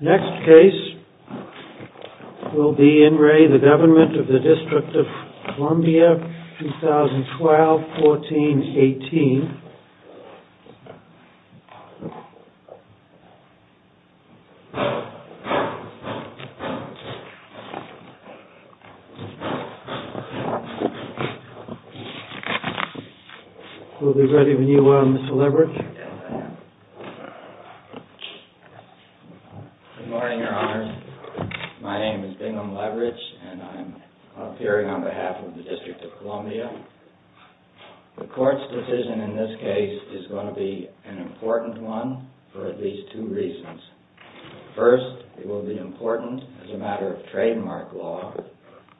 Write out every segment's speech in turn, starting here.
Next case will be IN RE GOVT OF DC 2012-14-18. We'll be ready when you are, Mr. Leverich. Yes, I am. Good morning, Your Honors. My name is Bingham Leverich and I'm appearing on behalf of the District of Columbia. The Court's decision in this case is going to be an important one for at least two reasons. First, it will be important as a matter of trademark law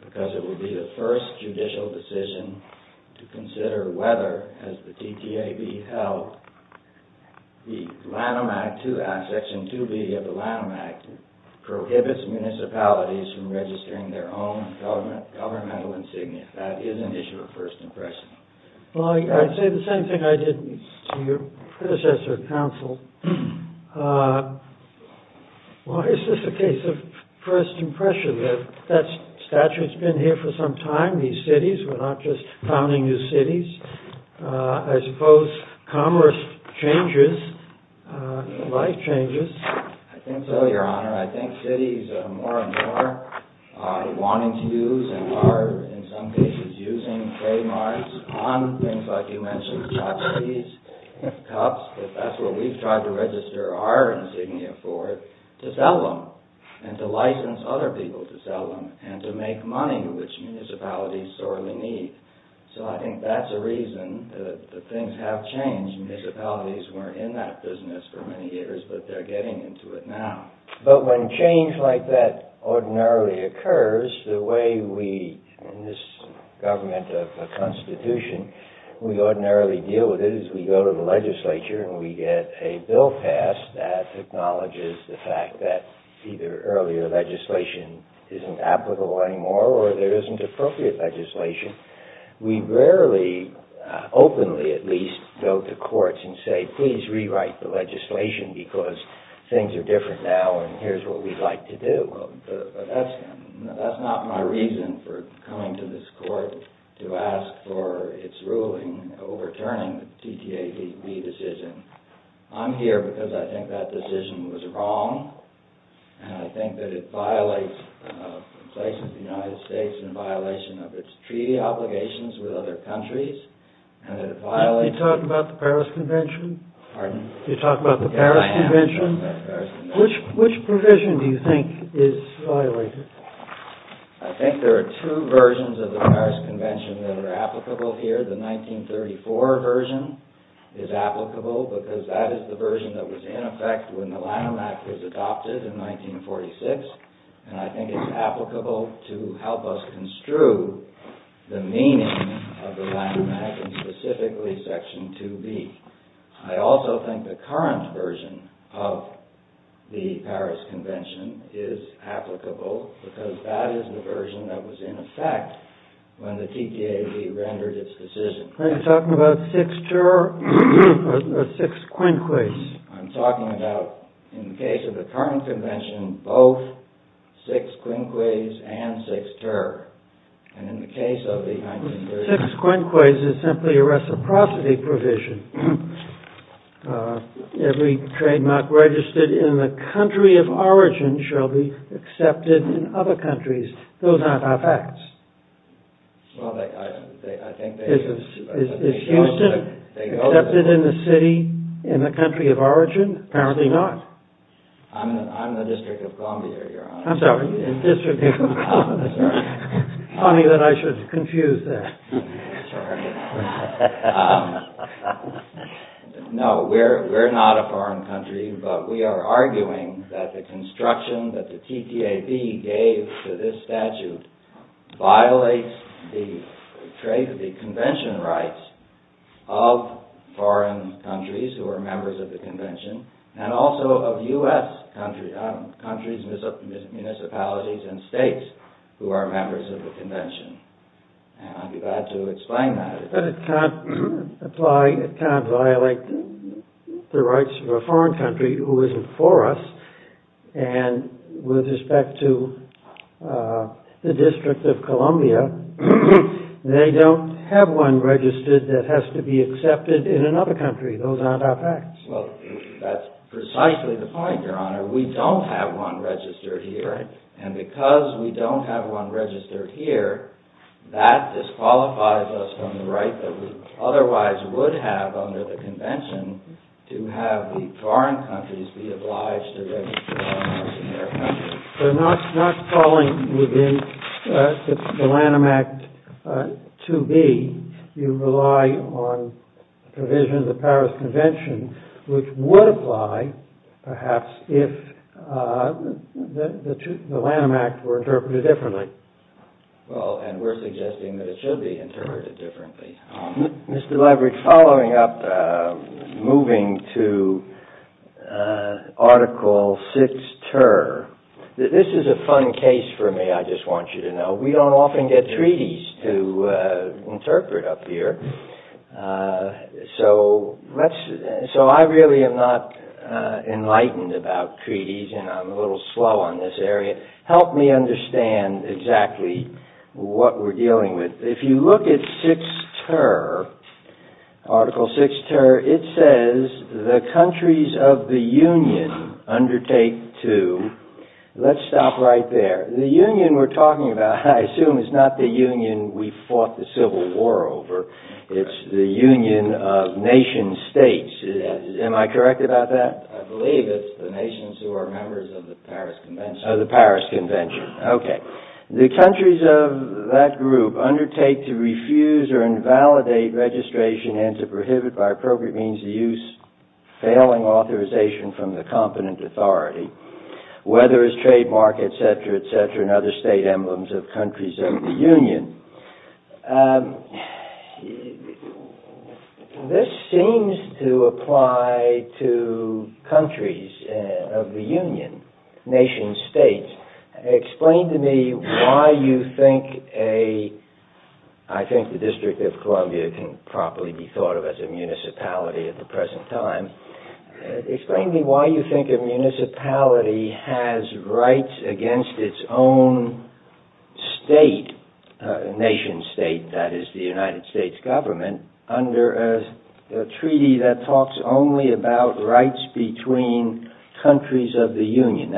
because it will be the first judicial decision to consider whether, as the DTAB held, the Lanham Act, Section 2B of the Lanham Act, prohibits municipalities from registering their own governmental insignia. If that is an issue of first impression. Well, I'd say the same thing I did to your predecessor, counsel. Why is this a case of first impression? That statute's been here for some time, these cities. We're not just founding new cities. I suppose commerce changes, life changes. I think so, Your Honor. I think cities are more and more wanting to use and are, in some cases, using trademarks on things like you mentioned, chopsticks, cups, if that's what we've tried to register our insignia for, to sell them and to license other people to sell them and to make money, which municipalities sorely need. So I think that's a reason that things have changed. Municipalities weren't in that business for many years, but they're getting into it now. But when change like that ordinarily occurs, the way we, in this government of a constitution, we ordinarily deal with it is we go to the legislature and we get a bill passed that acknowledges the fact that either earlier legislation isn't applicable anymore or there isn't appropriate legislation. We rarely, openly at least, go to courts and say, please rewrite the legislation because things are different now and here's what we'd like to do. That's not my reason for coming to this court to ask for its ruling overturning the TTAB decision. I'm here because I think that decision was wrong and I think that it violates the United States in violation of its treaty obligations with other countries. You're talking about the Paris Convention? Pardon? You're talking about the Paris Convention? Yes, I am. Which provision do you think is violated? I think there are two versions of the Paris Convention that are applicable here. The 1934 version is applicable because that is the version that was in effect when the Lanham Act was adopted in 1946 and I think it's applicable to help us construe the meaning of the Lanham Act and specifically Section 2B. I also think the current version of the Paris Convention is applicable because that is the version that was in effect when the TTAB rendered its decision. Are you talking about 6ter or 6quinquis? I'm talking about, in the case of the current convention, both 6quinquis and 6ter. 6quinquis is simply a reciprocity provision. Every trademark registered in the country of origin shall be accepted in other countries. Those are not our facts. Is Houston accepted in the city, in the country of origin? Apparently not. I'm the District of Columbia, Your Honor. I'm sorry, in the District of Columbia. It's funny that I should confuse that. No, we're not a foreign country, but we are arguing that the construction that the TTAB gave to this statute violates the convention rights of foreign countries who are members of the convention and also of U.S. countries, municipalities, and states who are members of the convention. And I'd be glad to explain that. But it can't apply, it can't violate the rights of a foreign country who isn't for us. And with respect to the District of Columbia, they don't have one registered that has to be accepted in another country. Those aren't our facts. Well, that's precisely the point, Your Honor. We don't have one registered here. And because we don't have one registered here, that disqualifies us from the right that we otherwise would have under the convention to have the foreign countries be obliged to register us in their country. They're not calling within the Lanham Act to be. You rely on provision of the Paris Convention, which would apply, perhaps, if the Lanham Act were interpreted differently. Well, and we're suggesting that it should be interpreted differently. Mr. Leverick, following up, moving to Article VI Ter. This is a fun case for me, I just want you to know. We don't often get treaties to interpret up here. So I really am not enlightened about treaties, and I'm a little slow on this area. Help me understand exactly what we're dealing with. If you look at VI Ter, Article VI Ter, it says, the countries of the Union undertake to... Let's stop right there. The Union we're talking about, I assume, is not the Union we fought the Civil War over. It's the Union of Nation States. Am I correct about that? I believe it's the nations who are members of the Paris Convention. Of the Paris Convention. Okay. The countries of that group undertake to refuse or invalidate registration and to prohibit by appropriate means the use, failing authorization from the competent authority, whether as trademark, etc., etc., and other state emblems of countries of the Union. This seems to apply to countries of the Union, nation states. Explain to me why you think a... I think the District of Columbia can properly be thought of as a municipality at the present time. Explain to me why you think a municipality has rights against its own state, nation state, that is the United States government, under a treaty that talks only about rights between countries of the Union.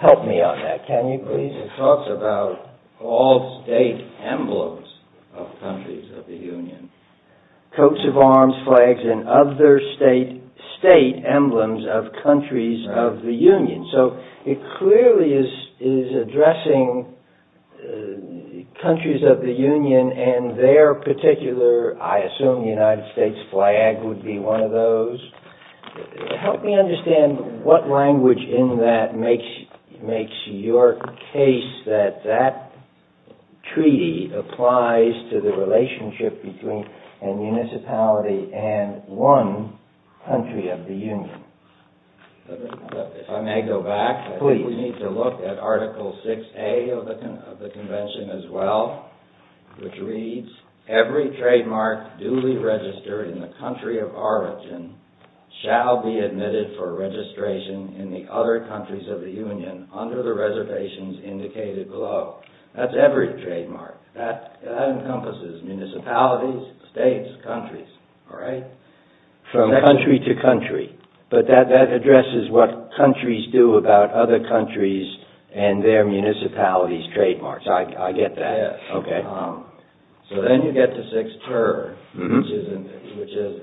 Help me on that, can you please? It talks about all state emblems of countries of the Union. Coats of arms, flags, and other state emblems of countries of the Union. So it clearly is addressing countries of the Union and their particular, I assume, United States flag would be one of those. Help me understand what language in that makes your case that that treaty applies to the relationship between a municipality and one country of the Union. If I may go back, I think we need to look at Article 6A of the Convention as well, which reads, Every trademark duly registered in the country of origin shall be admitted for registration in the other countries of the Union under the reservations indicated below. That's every trademark. That encompasses municipalities, states, countries. From country to country. But that addresses what countries do about other countries and their municipalities' trademarks. I get that. So then you get to 6ter, which is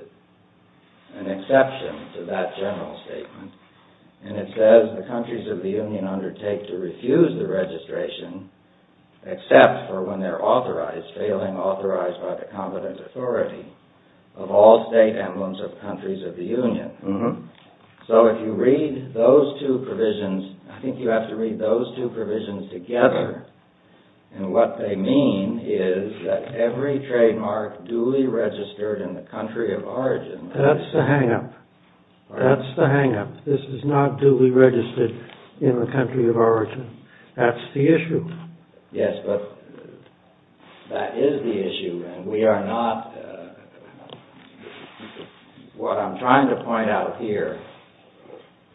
an exception to that general statement. And it says, The countries of the Union undertake to refuse the registration, except for when they are authorized, failing authorized by the competent authority, of all state emblems of countries of the Union. So if you read those two provisions, I think you have to read those two provisions together. And what they mean is that every trademark duly registered in the country of origin... That's the hang-up. That's the hang-up. This is not duly registered in the country of origin. That's the issue. Yes, but that is the issue, and we are not... What I'm trying to point out here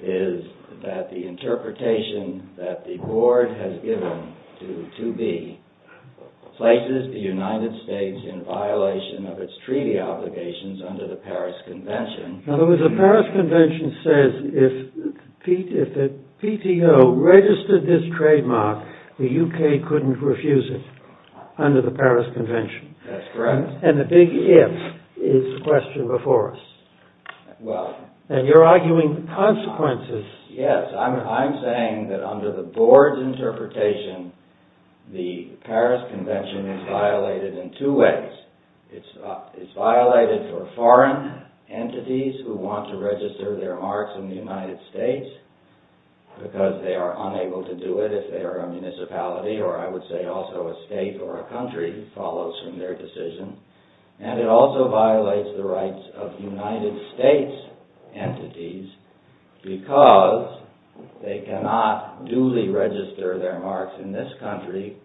is that the interpretation that the Board has given to 2B places the United States in violation of its treaty obligations under the Paris Convention. In other words, the Paris Convention says if the PTO registered this trademark, the UK couldn't refuse it under the Paris Convention. That's correct. And the big if is the question before us. Well... And you're arguing the consequences... Yes, I'm saying that under the Board's interpretation, the Paris Convention is violated in two ways. It's violated for foreign entities who want to register their marks in the United States, because they are unable to do it if they are a municipality, or I would say also a state or a country, follows from their decision. And it also violates the rights of United States entities, because they cannot duly register their marks in this country,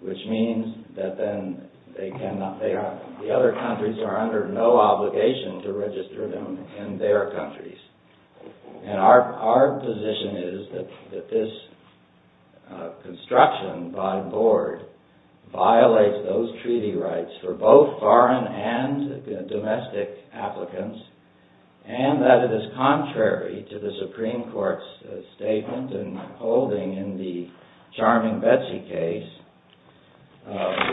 which means that then the other countries are under no obligation to register them in their countries. And our position is that this construction by Board violates those treaty rights for both foreign and domestic applicants, and that it is contrary to the Supreme Court's statement and holding in the charming Betsy case,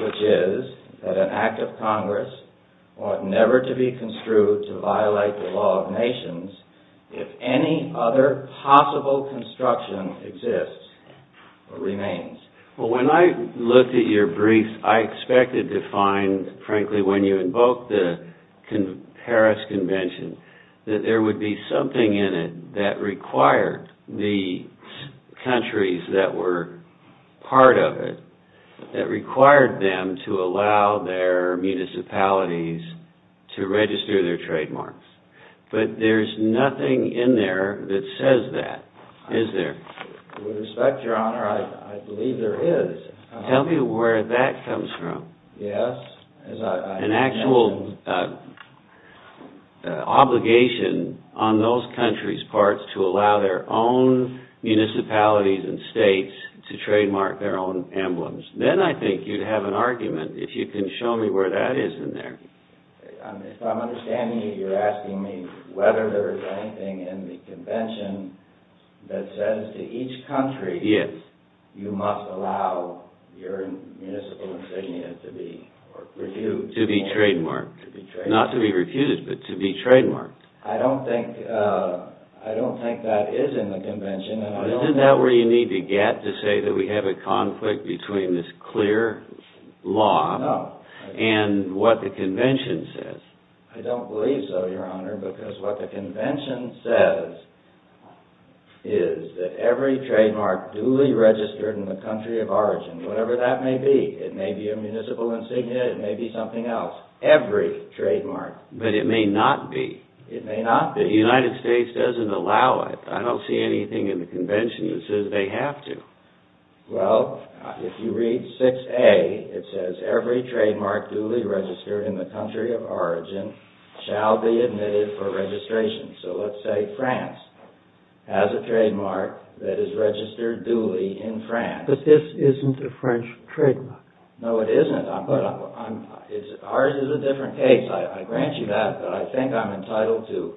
which is that an act of Congress ought never to be construed to violate the law of nations if any other possible construction exists or remains. Well, when I looked at your brief, I expected to find, frankly, when you invoked the Paris Convention, that there would be something in it that required the countries that were part of it, that required them to allow their municipalities to register their trademarks. But there's nothing in there that says that, is there? With respect, Your Honor, I believe there is. Tell me where that comes from. Yes. An actual obligation on those countries' parts to allow their own municipalities and states to trademark their own emblems. Then I think you'd have an argument if you can show me where that is in there. If I'm understanding you, you're asking me whether there is anything in the Convention that says to each country, you must allow your municipal insignia to be refused. To be trademarked. To be trademarked. Not to be refused, but to be trademarked. Isn't that where you need to get to say that we have a conflict between this clear law and what the Convention says? I don't believe so, Your Honor, because what the Convention says is that every trademark duly registered in the country of origin, whatever that may be, it may be a municipal insignia, it may be something else, every trademark. But it may not be. It may not be. The United States doesn't allow it. I don't see anything in the Convention that says they have to. Well, if you read 6A, it says every trademark duly registered in the country of origin shall be admitted for registration. So let's say France has a trademark that is registered duly in France. But this isn't a French trademark. No, it isn't. Ours is a different case. I grant you that, but I think I'm entitled to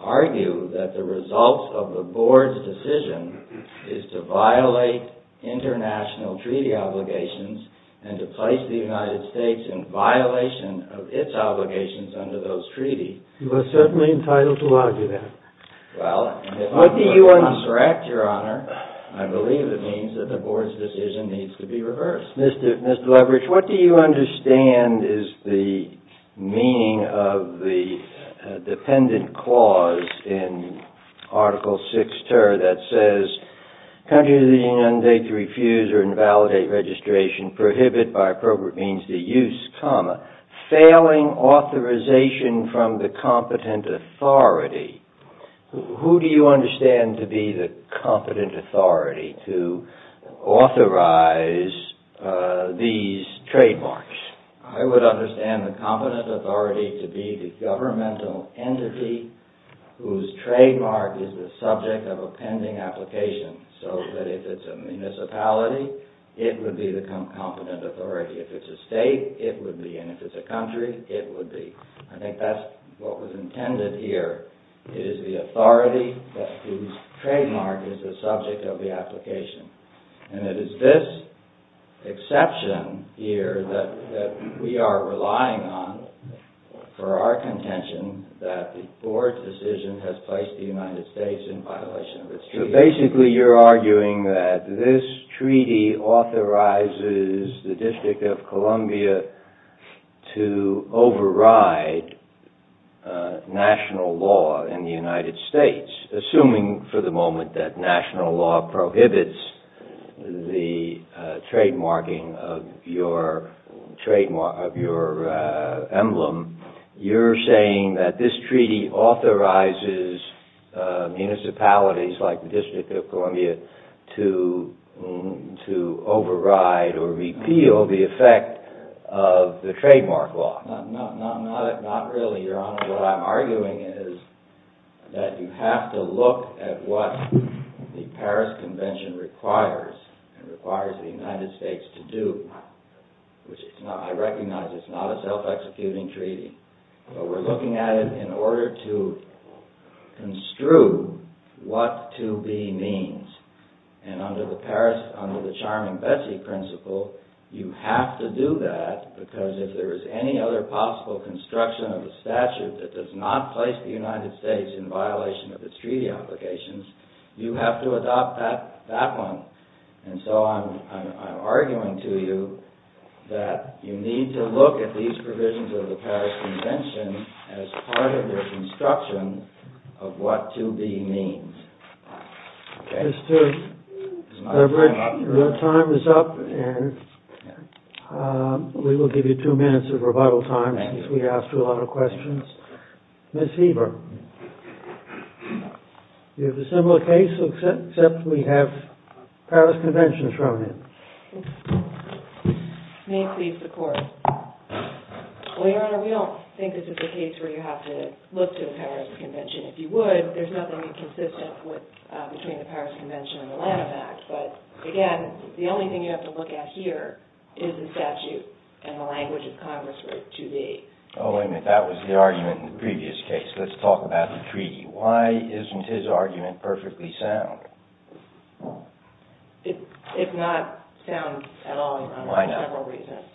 argue that the result of the Board's decision is to violate international treaty obligations and to place the United States in violation of its obligations under those treaties. You are certainly entitled to argue that. Well, if I'm correct, Your Honor, I believe it means that the Board's decision needs to be reversed. Yes. Mr. Leverage, what do you understand is the meaning of the dependent clause in Article VI Ter that says countries of the Union date to refuse or invalidate registration, prohibit by appropriate means the use, comma, failing authorization from the competent authority? Who do you understand to be the competent authority to authorize these trademarks? I would understand the competent authority to be the governmental entity whose trademark is the subject of a pending application. So that if it's a municipality, it would be the competent authority. If it's a state, it would be. And if it's a country, it would be. I think that's what was intended here. It is the authority whose trademark is the subject of the application. And it is this exception here that we are relying on for our contention that the Board's decision has placed the United States in violation of its treaties. Basically, you're arguing that this treaty authorizes the District of Columbia to override national law in the United States, assuming for the moment that national law prohibits the trademarking of your emblem. You're saying that this treaty authorizes municipalities like the District of Columbia to override or repeal the effect of the trademark law. Not really, Your Honor. What I'm arguing is that you have to look at what the Paris Convention requires and requires the United States to do. I recognize it's not a self-executing treaty, but we're looking at it in order to construe what to be means. And under the charming Betsy principle, you have to do that, because if there is any other possible construction of a statute that does not place the United States in violation of its treaty applications, you have to adopt that one. And so I'm arguing to you that you need to look at these provisions of the Paris Convention as part of the construction of what to be means. Mr. Leverick, your time is up, and we will give you two minutes of revival time, since we asked you a lot of questions. Ms. Heber, you have a similar case, except we have Paris Convention thrown in. Well, Your Honor, we don't think this is a case where you have to look to the Paris Convention. If you would, there's nothing inconsistent between the Paris Convention and the Lanham Act. But again, the only thing you have to look at here is the statute and the language of Congress for it to be. Oh, wait a minute. That was the argument in the previous case. Let's talk about the treaty. Why isn't his argument perfectly sound? It's not sound at all, Your Honor, for several reasons.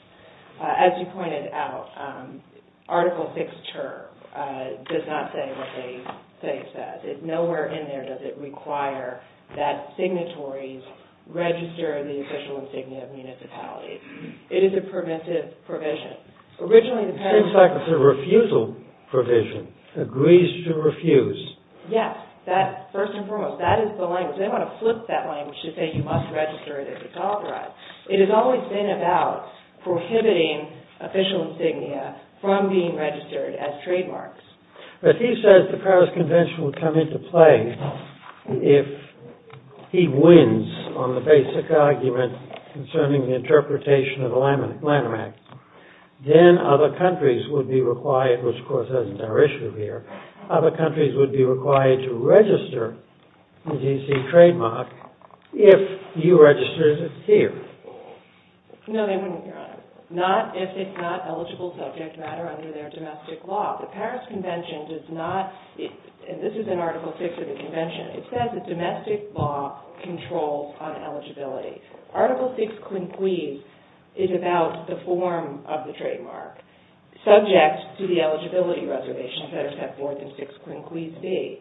As you pointed out, Article VI term does not say what they say it says. Nowhere in there does it require that signatories register the official insignia of a municipality. It is a preventive provision. It seems like it's a refusal provision. Agrees to refuse. Yes. First and foremost, that is the language. They want to flip that language to say you must register it if it's authorized. It has always been about prohibiting official insignia from being registered as trademarks. But he says the Paris Convention would come into play if he wins on the basic argument concerning the interpretation of the Lanham Act. Then other countries would be required, which of course isn't our issue here, other countries would be required to register the G.C. trademark if you registered it here. No, they wouldn't, Your Honor. Not if it's not eligible subject matter under their domestic law. The Paris Convention does not, and this is in Article VI of the Convention, it says that domestic law controls on eligibility. Article VI quinquees is about the form of the trademark subject to the eligibility reservations that are set forth in VI quinquees B.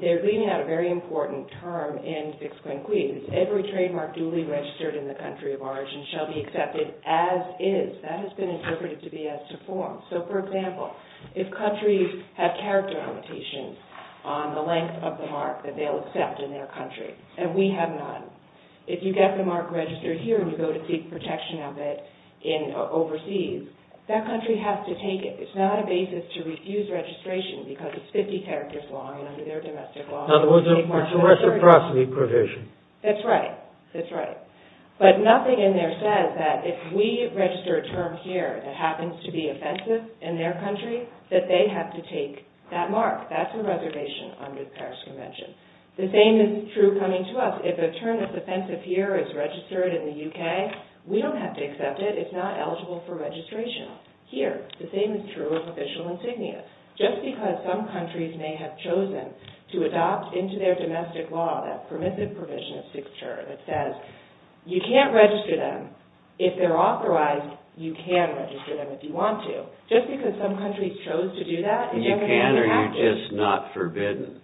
They're leaving out a very important term in VI quinquees. Every trademark duly registered in the country of origin shall be accepted as is. That has been interpreted to be as to form. So, for example, if countries have character limitations on the length of the mark that they'll accept in their country, and we have none, if you get the mark registered here and you go to seek protection of it overseas, that country has to take it. It's not a basis to refuse registration because it's 50 characters long and under their domestic law. It's a reciprocity provision. That's right. That's right. But nothing in there says that if we register a term here that happens to be offensive in their country, that they have to take that mark. That's a reservation under the Paris Convention. The same is true coming to us. If a term that's offensive here is registered in the U.K., we don't have to accept it. It's not eligible for registration. Here, the same is true of official insignia. Just because some countries may have chosen to adopt into their domestic law that permissive provision of VI character that says you can't register them, if they're authorized, you can register them if you want to. Just because some countries chose to do that doesn't mean they have to. You can or you're just not forbidden?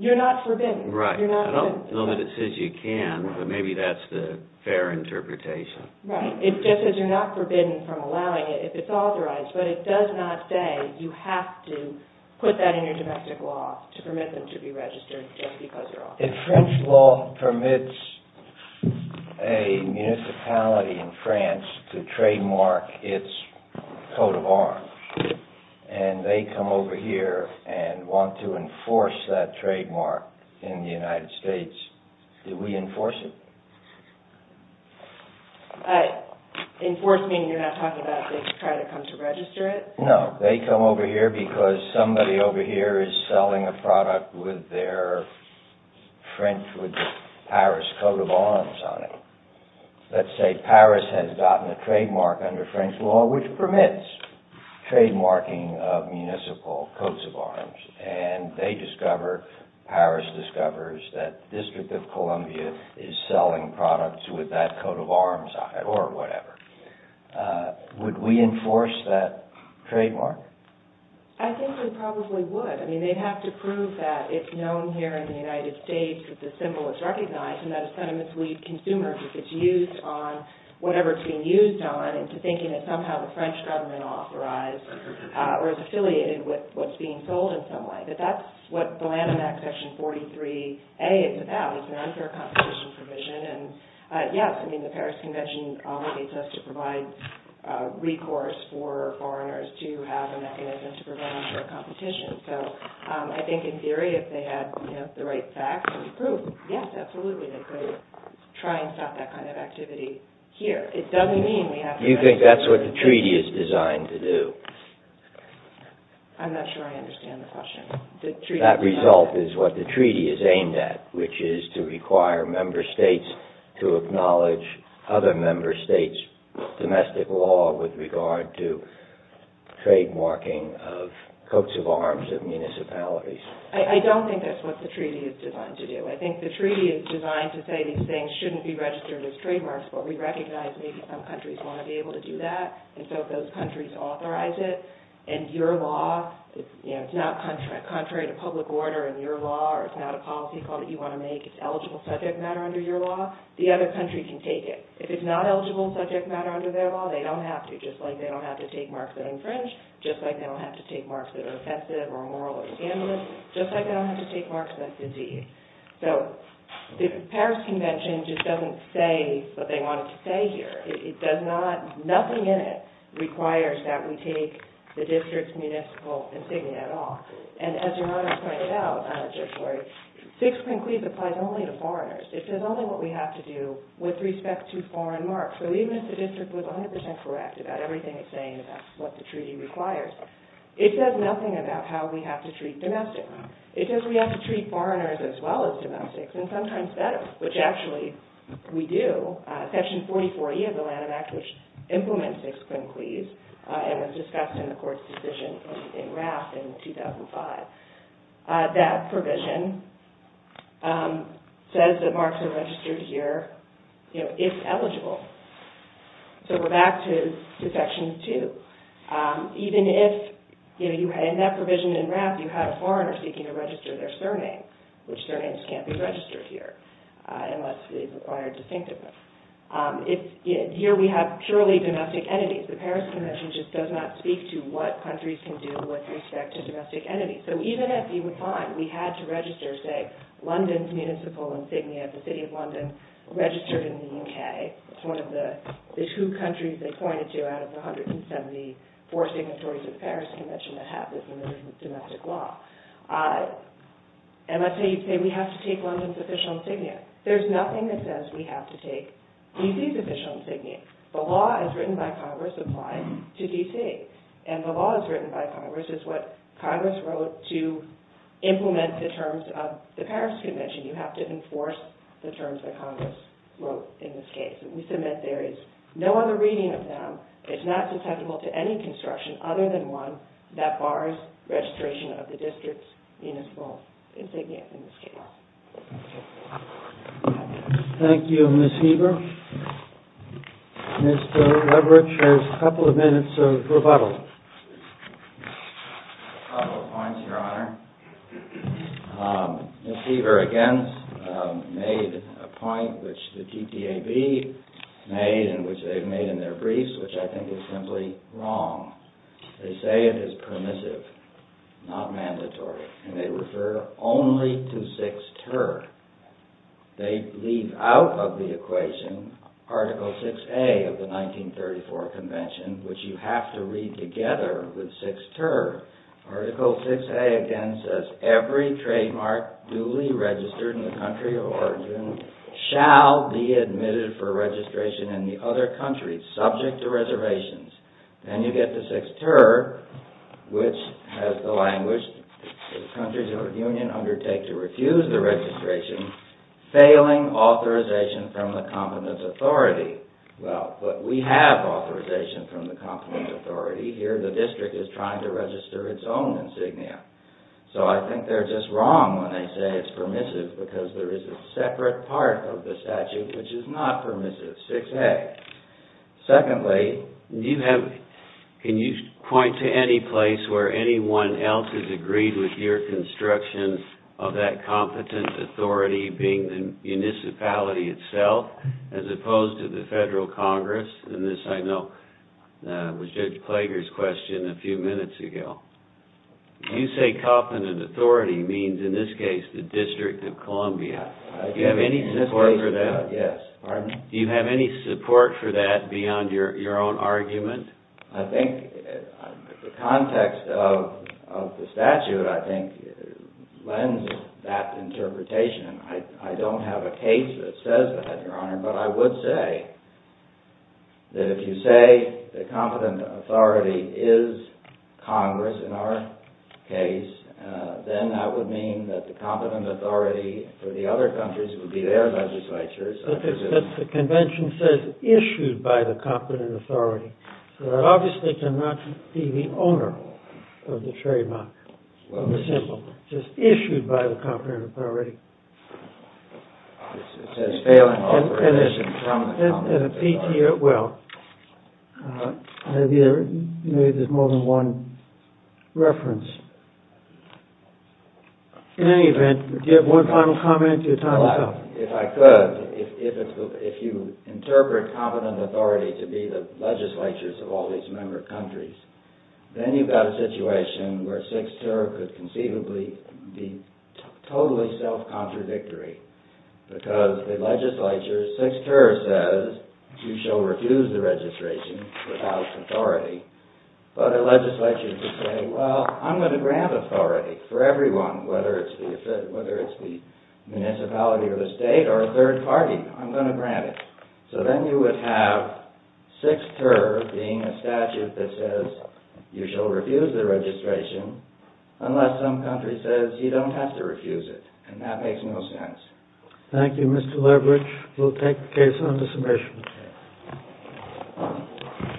You're not forbidden. Right. I don't know that it says you can, but maybe that's the fair interpretation. Right. It just says you're not forbidden from allowing it if it's authorized, but it does not say you have to put that in your domestic law to permit them to be registered just because you're authorized. If French law permits a municipality in France to trademark its coat of arms, and they come over here and want to enforce that trademark in the United States, do we enforce it? Enforce meaning you're not talking about they try to come to register it? No. They come over here because somebody over here is selling a product with the Paris coat of arms on it. Let's say Paris has gotten a trademark under French law which permits trademarking of municipal coats of arms, and Paris discovers that the District of Columbia is selling products with that coat of arms on it or whatever. Would we enforce that trademark? I think we probably would. I mean, they'd have to prove that it's known here in the United States that the symbol is recognized and that it's sentimentally consumer if it's used on whatever it's being used on into thinking that somehow the French government authorized or is affiliated with what's being sold in some way. But that's what the Lanham Act Section 43A is about. It's an unfair competition provision. Yes, I mean, the Paris Convention obligates us to provide recourse for foreigners to have a mechanism to prevent unfair competition. So I think in theory, if they had the right facts and proof, yes, absolutely, they could try and stop that kind of activity here. It doesn't mean we have to... You think that's what the treaty is designed to do? I'm not sure I understand the question. That result is what the treaty is aimed at, which is to require member states to acknowledge other member states' domestic law with regard to trademarking of coats of arms of municipalities. I don't think that's what the treaty is designed to do. I think the treaty is designed to say these things shouldn't be registered as trademarks, but we recognize maybe some countries want to be able to do that, and so those countries authorize it. And your law is not contrary to public order, and your law is not a policy call that you want to make. It's eligible subject matter under your law. The other country can take it. If it's not eligible subject matter under their law, they don't have to, just like they don't have to take marks that infringe, just like they don't have to take marks that are offensive or immoral or scandalous, just like they don't have to take marks that disease. So the Paris Convention just doesn't say what they want it to say here. Nothing in it requires that we take the district's municipal insignia at all. And as Your Honor pointed out, I'm not sure, Sixth Precludes applies only to foreigners. It says only what we have to do with respect to foreign marks. So even if the district was 100% correct about everything it's saying about what the treaty requires, it says nothing about how we have to treat domestics. It says we have to treat foreigners as well as domestics, and sometimes better, which actually we do. Section 44E of the Lanham Act, which implements Sixth Precludes and was discussed in the Court's decision in RAF in 2005, that provision says that marks are registered here if eligible. So we're back to Section 2. Even if, in that provision in RAF, you had a foreigner seeking to register their surname, which surnames can't be registered here unless it's required distinctiveness. Here we have purely domestic entities. The Paris Convention just does not speak to what countries can do with respect to domestic entities. So even if you would find we had to register, say, London's municipal insignia, the City of London, registered in the U.K. It's one of the two countries they pointed to out of the 174 signatories of the Paris Convention that have this in their domestic law. And let's say you say we have to take London's official insignia. There's nothing that says we have to take D.C.'s official insignia. The law as written by Congress applies to D.C. And the law as written by Congress is what Congress wrote to implement the terms of the Paris Convention. You have to enforce the terms that Congress wrote in this case. We submit there is no other reading of them. It's not susceptible to any construction other than one that bars registration of the district's municipal insignia in this case. Thank you, Ms. Heber. Mr. Leverich has a couple of minutes of rebuttal. A couple of points, Your Honor. Ms. Heber, again, made a point which the TTAB made and which they've made in their briefs, which I think is simply wrong. They say it is permissive, not mandatory. And they refer only to 6ter. They leave out of the equation Article 6A of the 1934 Convention, which you have to read together with 6ter. Article 6A, again, says every trademark duly registered in the country of origin shall be admitted for registration in the other countries subject to reservations. Then you get to 6ter, which has the language the countries of union undertake to refuse the registration, failing authorization from the competence authority. Well, but we have authorization from the competence authority. Here the district is trying to register its own insignia. So I think they're just wrong when they say it's permissive because there is a separate part of the statute which is not permissive, 6A. Secondly, can you point to any place where anyone else has agreed with your construction of that competence authority being the municipality itself as opposed to the Federal Congress? And this, I know, was Judge Plager's question a few minutes ago. You say competence authority means, in this case, the District of Columbia. Do you have any support for that? Yes. Pardon me? Do you have any support for that beyond your own argument? I think the context of the statute, I think, lends that interpretation. I don't have a case that says that, Your Honor, but I would say that if you say the competence authority is Congress in our case, then that would mean that the competence authority for the other countries would be their legislatures. But the convention says issued by the competence authority, so that obviously cannot be the owner of the trademark, of the symbol. It says issued by the competence authority. It says failing all permission from the competence authority. Well, maybe there's more than one reference. In any event, do you have one final comment? If I could, if you interpret competence authority to be the legislatures of all these member countries, then you've got a situation where Sixth Tour could conceivably be totally self-contradictory because the legislature, Sixth Tour says, you shall refuse the registration without authority. But a legislature could say, well, I'm going to grant authority for everyone, whether it's the municipality or the state or a third party. I'm going to grant it. So then you would have Sixth Tour being a statute that says you shall refuse the registration unless some country says you don't have to refuse it, and that makes no sense. Thank you, Mr. Leverage. We'll take the case on the submission.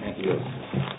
Thank you.